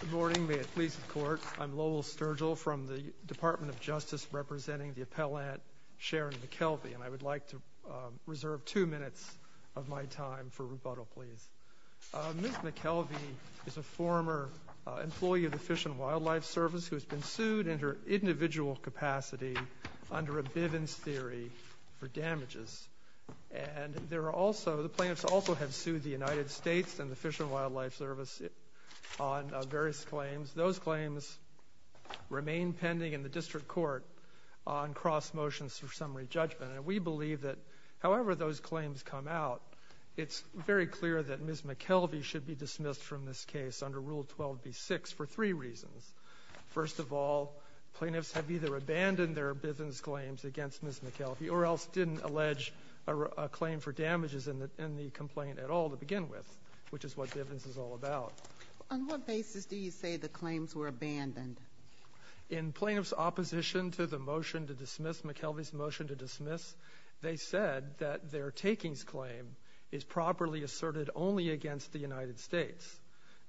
Good morning. May it please the Court, I'm Lowell Sturgill from the Department of Justice representing the appellant Sharon McKelvey, and I would like to reserve two minutes of my time for rebuttal, please. Ms. McKelvey is a former employee of the Fish and Wildlife Service who has been sued in her individual capacity under a Bivens theory for damages. And there are also, the plaintiffs also have sued the United States and the Fish and Wildlife Service on various claims. Those claims remain pending in the district court on cross-motions for summary judgment. And we believe that however those claims come out, it's very clear that Ms. McKelvey should be dismissed from this case under Rule 12b6 for three reasons. First of all, plaintiffs have either abandoned their Bivens claims against Ms. McKelvey or else didn't allege a claim for damages in the complaint at all to begin with, which is what Bivens is all about. On what basis do you say the claims were abandoned? In plaintiff's opposition to the motion to dismiss, McKelvey's motion to dismiss, they said that their takings claim is properly asserted only against the United States.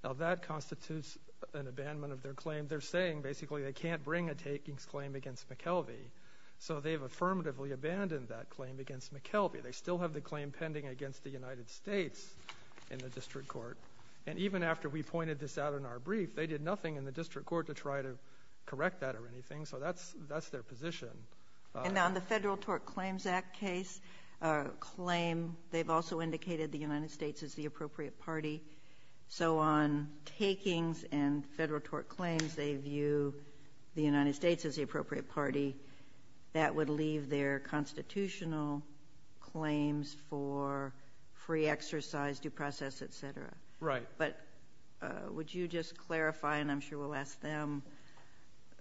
Now that constitutes an abandonment of their claim. They're saying basically they can't bring a takings claim against McKelvey, so they've affirmatively abandoned that claim against McKelvey. They still have the claim pending against the United States in the district court. And even after we pointed this out in our brief, they did nothing in the district court to try to correct that or anything, so that's their position. And on the Federal Tort Claims Act case claim, they've also indicated the United States is the appropriate party. So on takings and federal tort claims, they view the United States as the appropriate party. That would leave their constitutional claims for free exercise, due process, etc. Right. But would you just clarify, and I'm sure we'll ask them,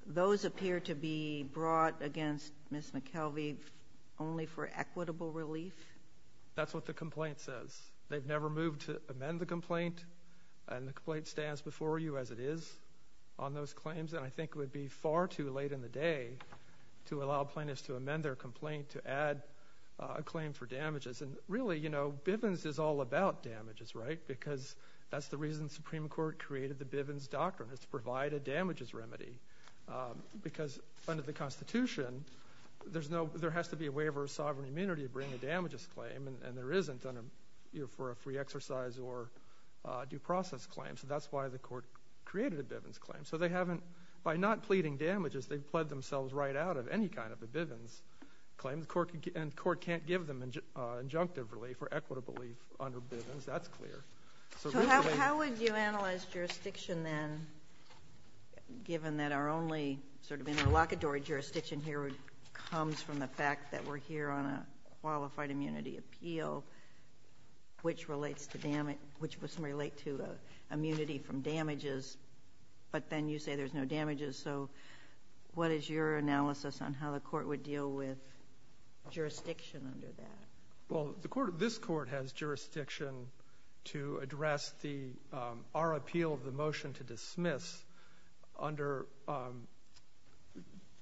those appear to be brought against Ms. McKelvey only for equitable relief? That's what the complaint says. They've never moved to amend the complaint, and the complaint stands before you as it is on those claims, and I think it would be far too late in the day to allow plaintiffs to amend their complaint to add a claim for damages. And really, you know, Bivens is all about damages, right? Because that's the reason the Supreme Court created the Bivens Doctrine, is to provide a damages remedy. Because under the Constitution, there has to be a waiver of sovereign immunity to bring a damages claim, and there isn't under, you know, for a free exercise or due process claim. So that's why the court created a Bivens claim. So they haven't, by not pleading damages, they've pled themselves right out of any kind of a Bivens claim. The court can't give them injunctive relief or equitable relief under Bivens, that's clear. So how would you analyze jurisdiction then, given that our only sort of interlocutory jurisdiction here comes from the fact that we're here on a qualified immunity appeal, which relates to damage, which must relate to immunity from damages, but then you say there's no damages. So what is your analysis on how the court would deal with jurisdiction under that? Well, the court, this court has jurisdiction to address the, our appeal of the motion to dismiss under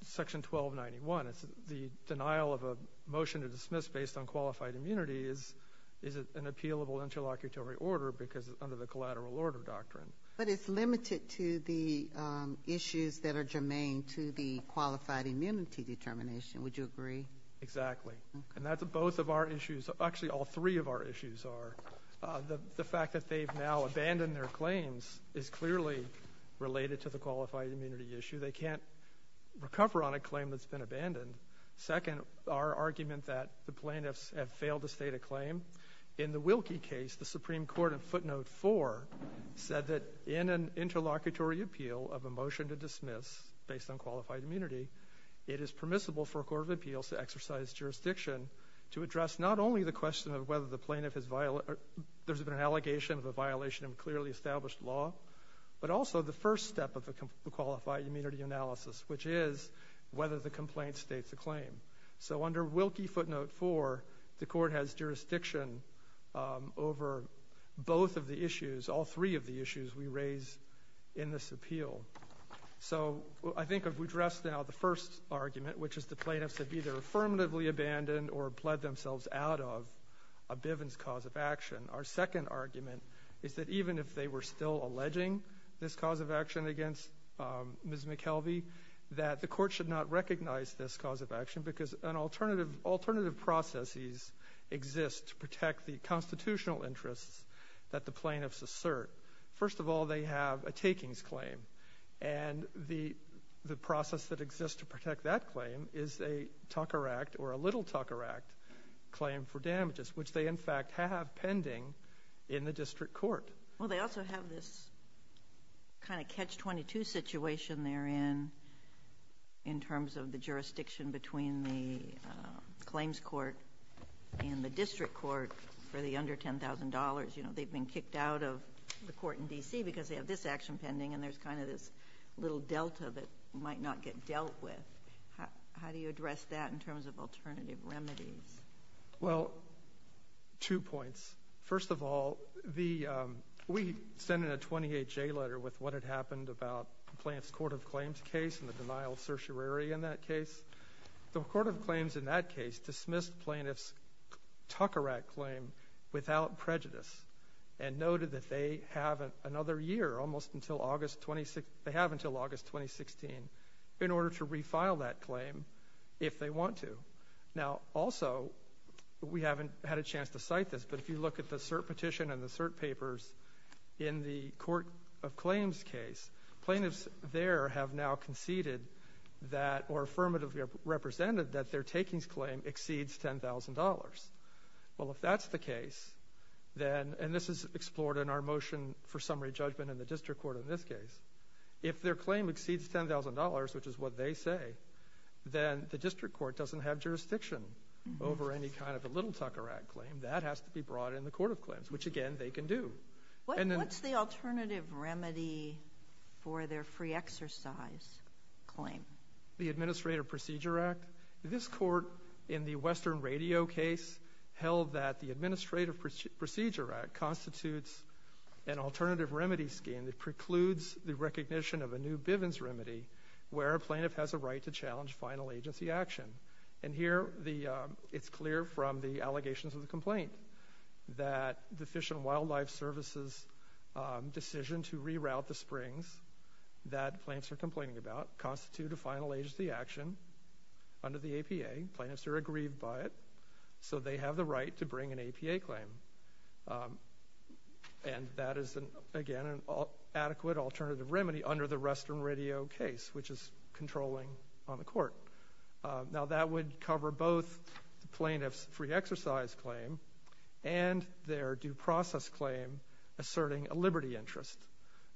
Section 1291. It's the denial of a motion to dismiss based on qualified immunity is an appealable interlocutory order because under the collateral order doctrine. But it's limited to the issues that are germane to the qualified immunity determination, would you agree? Exactly. And that's both of our issues, actually all three of our issues are. The fact that they've now abandoned their claims is clearly related to the qualified immunity issue. They can't recover on a claim that's been abandoned. Second, our argument that the plaintiffs have failed to state a claim. In the Wilkie case, the Supreme Court in footnote four said that in an interlocutory appeal of a motion to dismiss based on qualified immunity, it is permissible for a court of appeals to exercise jurisdiction to address not only the question of whether the plaintiff has violated, there's been an allegation of a violation of clearly established law, but also the first step of a qualified immunity analysis, which is whether the complaint states a claim. So under Wilkie footnote four, the court has jurisdiction over both of the issues, all three of the issues we raise in this appeal. So I think if we address now the first argument, which is the plaintiffs have either affirmatively abandoned or pled themselves out of a Bivens cause of action. Our second argument is that even if they were still alleging this cause of action against Ms. McKelvey, that the court should not recognize this cause of action because an alternative, alternative processes exist to protect the constitutional interests that the plaintiffs assert. First of all, they have a takings claim and the, the process that exists to protect that claim is a Tucker Act or a little Tucker Act claim for damages, which they in fact have pending in the district court. Well, they also have this kind of catch 22 situation there in, in terms of the jurisdiction between the claims court and the district court for the under $10,000, you know, they've been kicked out of the court in DC because they have this action pending and there's kind of this little Delta that might not get two points. First of all, the, um, we send in a 28 J letter with what had happened about the plants court of claims case and the denial of certiorari in that case. The court of claims in that case dismissed plaintiffs Tucker at claim without prejudice and noted that they haven't another year almost until August 26. They have until August 2016 in order to refile that claim if they want to. Now, also we haven't had a chance to cite this, but if you look at the cert petition and the cert papers in the court of claims case, plaintiffs there have now conceded that or affirmatively represented that their takings claim exceeds $10,000. Well, if that's the case, then, and this is explored in our motion for summary judgment in the district court in this case, if their claim exceeds $10,000, which is what they say, then the district court doesn't have jurisdiction over any kind of a little Tucker at claim that has to be brought in the court of claims, which again they can do. What's the alternative remedy for their free exercise claim? The administrative procedure act. This court in the Western radio case held that the administrative procedure act constitutes an alternative remedy scheme that precludes the recognition of a new Bivens remedy where a plaintiff has a right to challenge final agency action. And here it's clear from the allegations of the complaint that the Fish and Wildlife Service's decision to reroute the springs that plants are complaining about constitute a final agency action under the APA. Plaintiffs are aggrieved by it, so they have the right to bring an APA claim. And that is, again, an adequate alternative remedy under the Western radio case, which is controlling on the court. Now that would cover both the plaintiff's free exercise claim and their due process claim asserting a liberty interest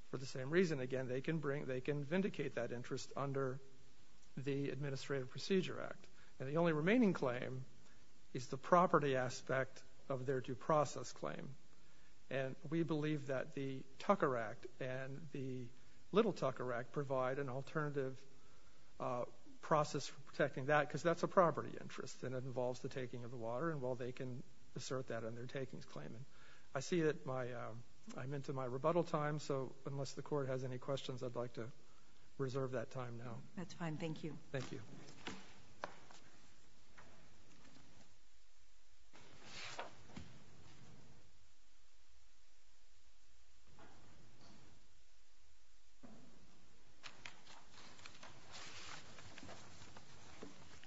for the same reason. Again, they can bring, they can vindicate that interest under the administrative procedure act. And the only remaining claim is the property aspect of their due process claim. And we believe that the Tucker Act and the Little Tucker Act provide an alternative process for protecting that, because that's a property interest and it involves the taking of the water. And while they can assert that in their takings claim. I see that my, I'm into my rebuttal time, so unless the court has any questions, I'd like to reserve that time now. That's fine. Thank you. Thank you.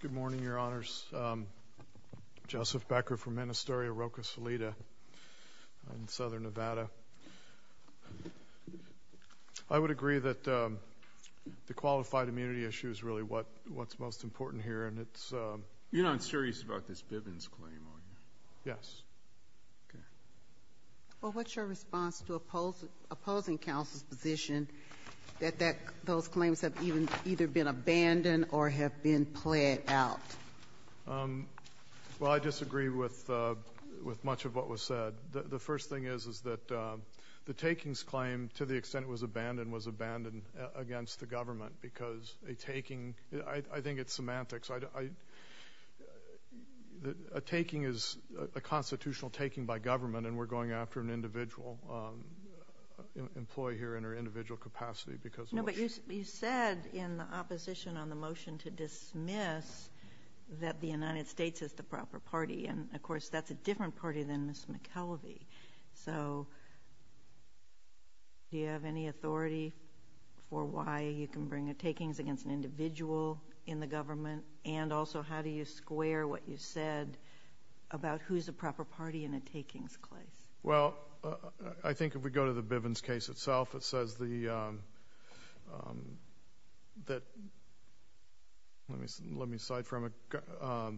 Good morning, Your Honors. Joseph Becker from Ministeria Roca Solita in Southern Nevada. I would agree that the qualified immunity issue is really what, what's most important here and it's. You're not serious about this Bivens claim, are you? Yes. Okay. Well, what's your response to opposing counsel's position that that those claims have even either been abandoned or have been played out? Well, I disagree with much of what was said. The first thing is, is that the takings claim, to the extent it was abandoned, was abandoned against the government because a taking, I think it's semantics. A taking is a constitutional taking by government and we're going after an individual employee here in her individual capacity because of. No, but you said in the opposition on the motion to dismiss that the United States is the proper party and, of course, that's a different party than Ms. McKelvie. So, do you have any authority for why you can bring a takings against an individual in the government and also how do you square what you said about who's the proper party in a takings claim? Well, I think if we go to the Bivens case itself, it says the, that, let me, let me cite from a,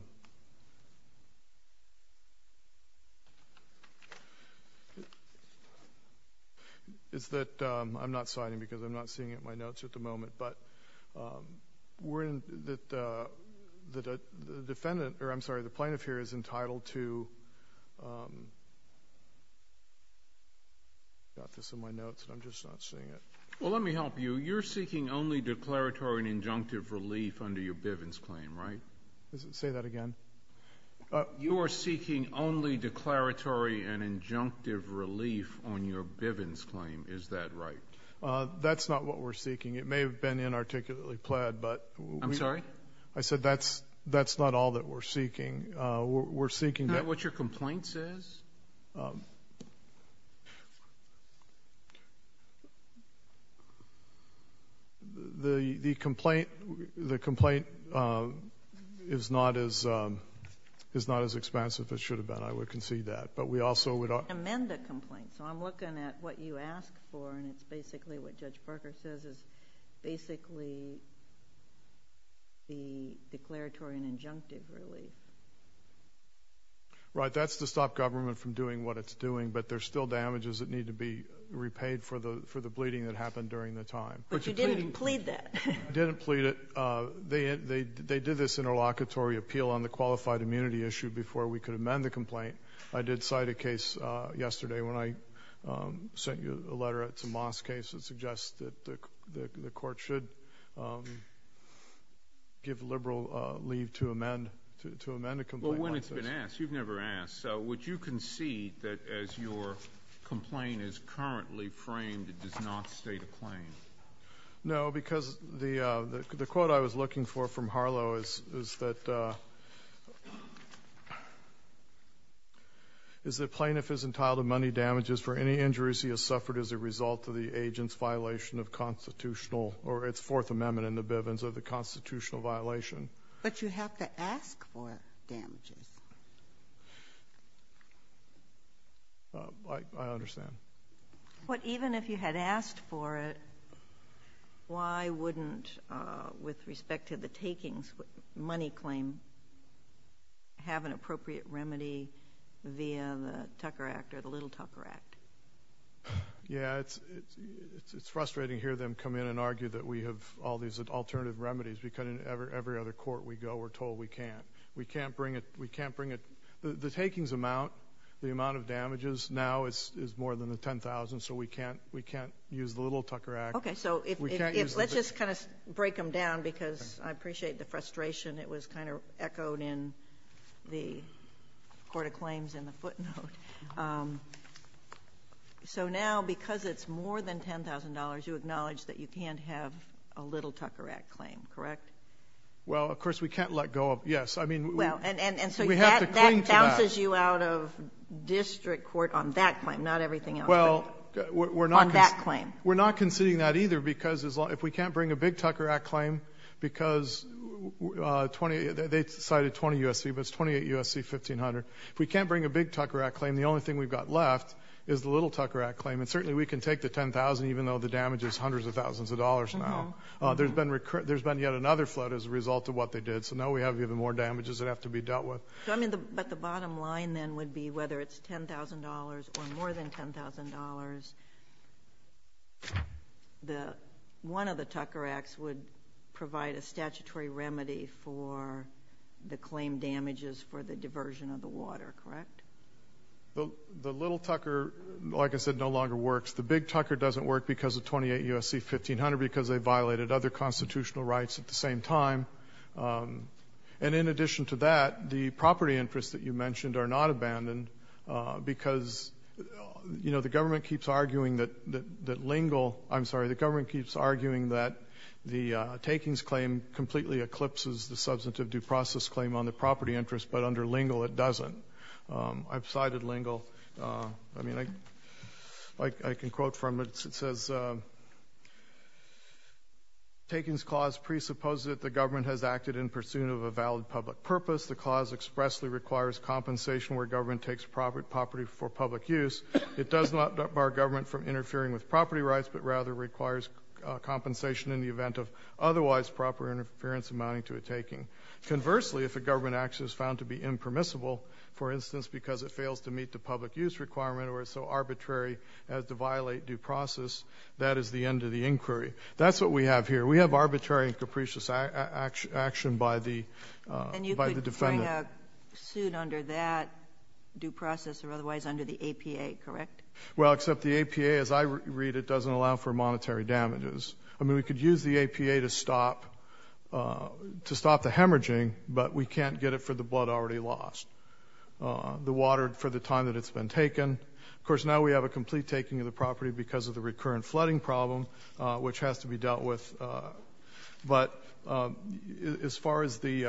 it's that, I'm not citing because I'm not seeing it in my notes at the moment, but we're in, that the defendant, or I'm sorry, the plaintiff here is entitled to, got this in my notes and I'm just not seeing it. Well, let me help you. You're seeking only declaratory and injunctive relief under your Bivens claim, right? Say that again? You are seeking only declaratory and injunctive relief on your Bivens claim, is that right? That's not what we're seeking. It may have been inarticulately pled, but. I'm sorry? I said that's, that's not all that we're seeking. We're seeking. Is that what your complaint says? The complaint, the complaint is not as, is not as expansive as it should have been. I would concede that. But we also would. Amend the complaint. So, I'm looking at what you asked for and it's basically the declaratory and injunctive relief. Right, that's to stop government from doing what it's doing, but there's still damages that need to be repaid for the, for the bleeding that happened during the time. But you didn't plead that. I didn't plead it. They, they, they did this interlocutory appeal on the qualified immunity issue before we could amend the complaint. I did cite a case yesterday when I sent you a letter. It's a Moss case that suggests that the, the, the court should give liberal leave to amend, to amend a complaint. Well, when it's been asked, you've never asked. So, would you concede that as your complaint is currently framed, it does not state a claim? No, because the, the quote I was looking for from Harlow is, is that, is that plaintiff is entitled to money damages for any injuries he has suffered as a result of the agent's violation of constitutional, or its Fourth Amendment in the Bivens of the constitutional violation. But you have to ask for damages. I, I understand. What even if you had asked for it, why wouldn't, with respect to the takings, money claim, have an appropriate remedy via the Tucker Act, or the Little Tucker Act? Yeah, it's, it's, it's frustrating to hear them come in and argue that we have all these alternative remedies. Because in every, every other court we go, we're told we can't. We can't bring it, we can't bring it, the, the takings amount, the amount of damages now is, is more than the 10,000, so we can't, we can't use the Little Tucker Act. Okay, so if, if, if, let's just kind of break them down because I appreciate the frustration. It was kind of echoed in the Court of Claims in the footnote. So now, because it's more than $10,000, you acknowledge that you can't have a Little Tucker Act claim, correct? Well, of course, we can't let go of, yes. I mean, we have to cling to that. Well, and, and so that, that bounces you out of district court on that claim, not everything else. Well, we're not. On that claim. We're not conceding that either because as long, if we can't bring a Big Tucker Act claim, because 20, they, they cited 20 U.S.C., but it's 28 U.S.C. 1500. If we can't bring a Big Tucker Act claim, the only thing we've got left is the Little Tucker Act claim, and certainly we can take the 10,000, even though the damage is hundreds of thousands of dollars now. There's been recurrent, there's been yet another flood as a result of what they did, so now we have even more damages that have to be dealt with. So, I mean, the, but the bottom line then would be whether it's $10,000 or more than $10,000, the, one of the Tucker Acts would provide a statutory remedy for the claim damages for the diversion of the water, correct? The Little Tucker, like I said, no longer works. The Big Tucker doesn't work because of 28 U.S.C. 1500 because they violated other constitutional rights at the same time. And in addition to that, the property interests that you mentioned are not abandoned because, you know, the government keeps arguing that, that Lingle, I'm sorry, the government keeps arguing that the Takings claim completely eclipses the substantive due process claim on the property interest, but under Lingle it doesn't. I've cited Lingle. I mean, I, I can quote from it. It says, Takings Clause presupposes that the government has acted in pursuit of a valid public purpose. The clause expressly requires compensation where government takes property for public use. It does not bar government from interfering with property rights, but rather requires compensation in the event of otherwise proper interference amounting to a taking. Conversely, if a government action is found to be impermissible, for instance, because it fails to meet the public use requirement or is so arbitrary as to violate due process, that is the end of the inquiry. That's what we have here. We have arbitrary and capricious action by the, by the defendant. And you could bring a suit under that due process or otherwise under the APA, correct? Well, except the APA, as I read it, doesn't allow for monetary damages. I mean, we could use the APA to stop, to stop the hemorrhaging, but we can't get it for the blood already lost, the water for the time that it's been taken. Of course, now we have a complete taking of the property because of the recurrent flooding problem, which has to be dealt with. But as far as the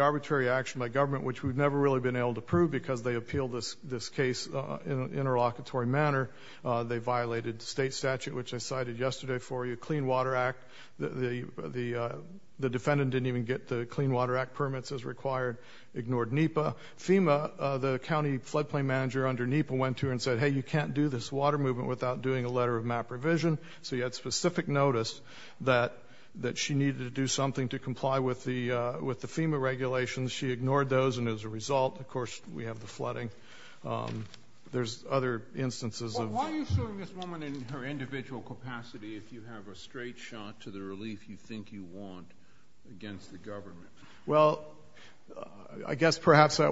arbitrary action by government, which we've never really been able to prove because they appealed this case in an interlocutory manner, they violated state statute, which I cited yesterday for you, Clean Water Act. The defendant didn't even get the Clean Water Act permits as required, ignored NEPA. FEMA, the county floodplain manager under NEPA, went to her and said, hey, you can't do this water movement without doing a letter of MAP revision. So he had specific notice that she needed to do something to comply with the FEMA regulations. She ignored those, and as a result, of course, we have the flooding. There's other instances of why you're showing this woman in her individual capacity if you have a straight shot to the relief you think you want against the government. Well, I guess perhaps that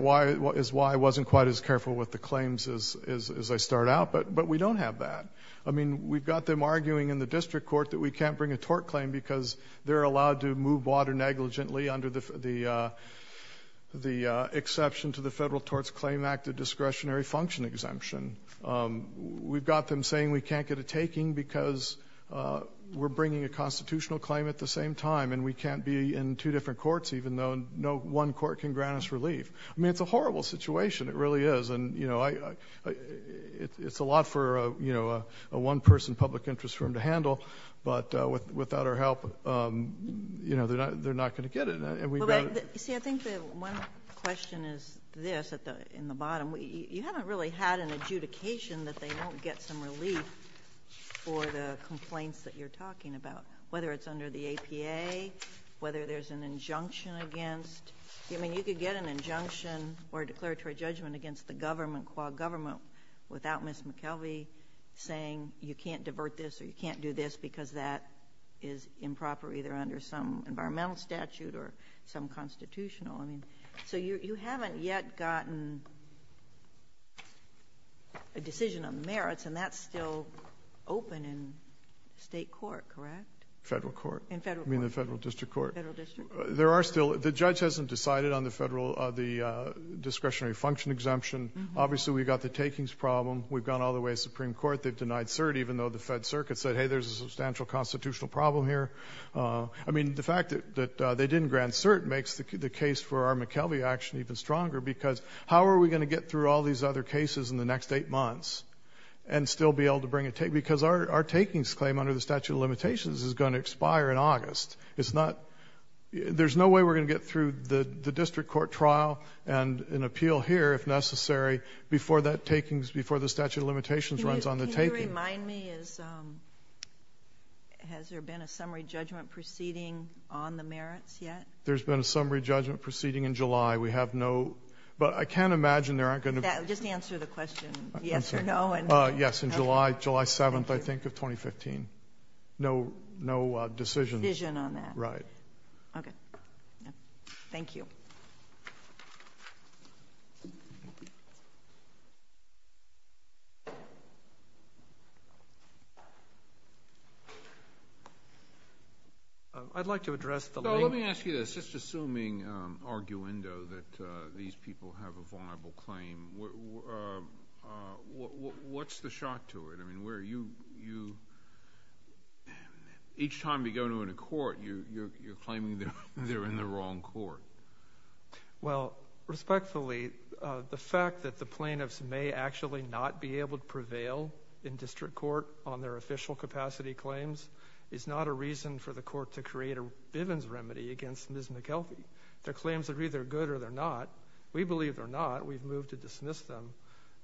is why I wasn't quite as careful with the claims as I start out, but we don't have that. I mean, we've got them arguing in the district court that we can't bring a tort claim because they're allowed to move water negligently under the exception to the Federal Torts Claim Act of discretionary function exemption. We've got them saying we can't get a taking because we're bringing a constitutional claim at the same time, and we can't be in two different courts, even though no one court can grant us relief. I mean, it's a horrible situation. It really is, and it's a lot for a one-person public interest for them to handle, but without our help, they're not going to get it. You see, I think the one question is this in the bottom. You haven't really had an adjudication that they won't get some relief for the complaints that you're talking about, whether it's under the APA, whether there's an injunction against... I mean, you could get an injunction or a declaratory judgment against the government, qua government, without Ms. McKelvie saying you can't divert this or you can't do this because that is improper, either under some environmental statute or some constitutional. I mean, so you haven't yet gotten a decision on the merits, and that's still open in state court, correct? Federal court. In Federal court. I mean, the Federal district court. Federal district. There are still the judge hasn't decided on the Federal discretionary function exemption. Obviously, we've got the takings problem. We've gone all the way to Supreme Court. They've denied CERT, even though the Fed Circuit said, hey, there's a substantial constitutional problem here. I mean, the fact that they didn't grant CERT makes the case for our McKelvie action even stronger, because how are we going to get through all these other cases in the next eight months and still be able to bring a take? The statute of limitations is going to expire in August. It's not, there's no way we're going to get through the district court trial and an appeal here, if necessary, before that takings, before the statute of limitations runs on the takings. Can you remind me, has there been a summary judgment proceeding on the merits yet? There's been a summary judgment proceeding in July. We have no, but I can imagine there aren't going to be. Just answer the question, yes or no. Yes, in July, July 7th, I think, of 2015. No decision. Decision on that. Right. Okay, thank you. I'd like to address the- No, let me ask you this. Just assuming, arguendo, that these people have a viable claim, what's the shot to it? I mean, where you, each time you go to a court, you're claiming they're in the wrong court. Well, respectfully, the fact that the plaintiffs may actually not be able to prevail in district court on their official capacity claims is not a reason for the court to create a Bivens remedy against Ms. McKelvie. Their claims are either good or they're not. We believe they're not. We've moved to dismiss them.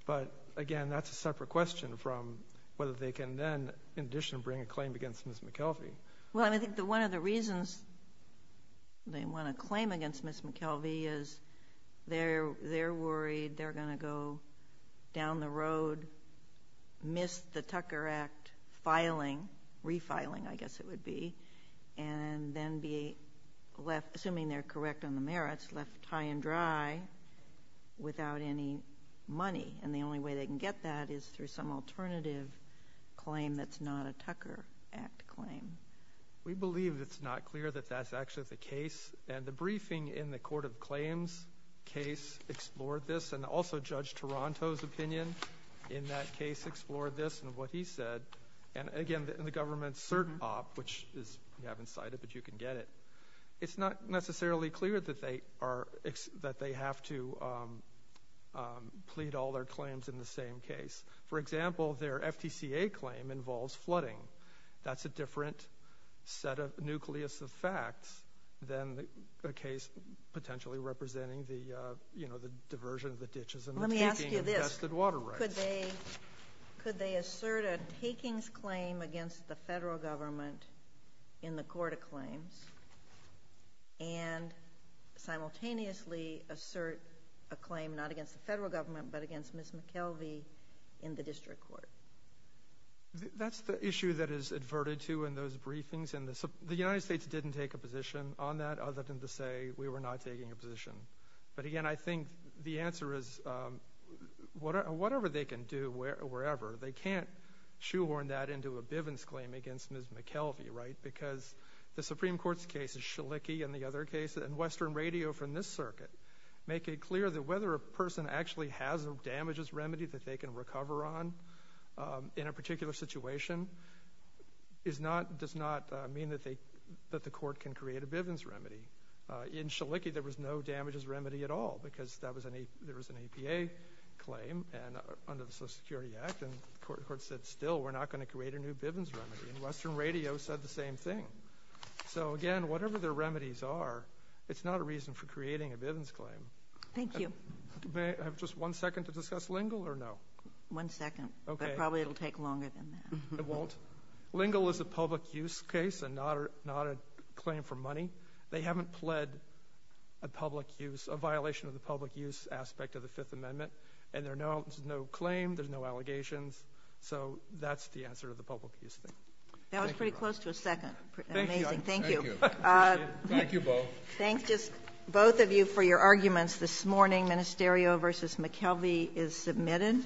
But again, that's a separate question from whether they can then, in addition, bring a claim against Ms. McKelvie. Well, I think that one of the reasons they want to claim against Ms. McKelvie is they're worried they're going to go down the road, miss the Tucker Act refiling, I guess it would imply, without any money. And the only way they can get that is through some alternative claim that's not a Tucker Act claim. We believe it's not clear that that's actually the case. And the briefing in the Court of Claims case explored this, and also Judge Taranto's opinion in that case explored this and what he said. And again, in the government's cert OP, which is, we haven't cited, but you can get it, it's not necessarily clear that they have to plead all their claims in the same case. For example, their FTCA claim involves flooding. That's a different set of, nucleus of facts than a case potentially representing the, you know, the diversion of the ditches and the taking of vested water rights. Let me ask you this. Could they assert a takings claim against the federal government in the Court of Claims and simultaneously assert a claim not against the federal government, but against Ms. McKelvey in the district court? That's the issue that is adverted to in those briefings. And the United States didn't take a position on that, other than to say we were not taking a position. But again, I think the answer is, whatever they can do, wherever, they can't shoehorn that into a Bivens claim against Ms. McKelvey, right? Because the Supreme Court's case is Schlicke and the other case, and Western Radio from this circuit, make it clear that whether a person actually has a damages remedy that they can recover on in a particular situation is not, does not mean that they, that the court can create a Bivens remedy. In Schlicke, there was no damages remedy at all, because that was an, there was an APA claim and under the Social Security Act, and the court said still, we're not going to create a new Bivens remedy. And Western Radio said the same thing. So again, whatever their remedies are, it's not a reason for creating a Bivens claim. Thank you. May I have just one second to discuss Lingle, or no? One second. Okay. But probably it'll take longer than that. It won't. Lingle is a public use case and not a, not a claim for money. They haven't pled a public use, a violation of the public use aspect of the Fifth Amendment, and there is no, there's no claim, there's no allegations. So that's the answer to the public use thing. Thank you. That was pretty close to a second. Thank you. Amazing. Thank you. Appreciate it. Thank you both. Thank just both of you for your arguments this morning. Ministerio v. McKelvey is submitted.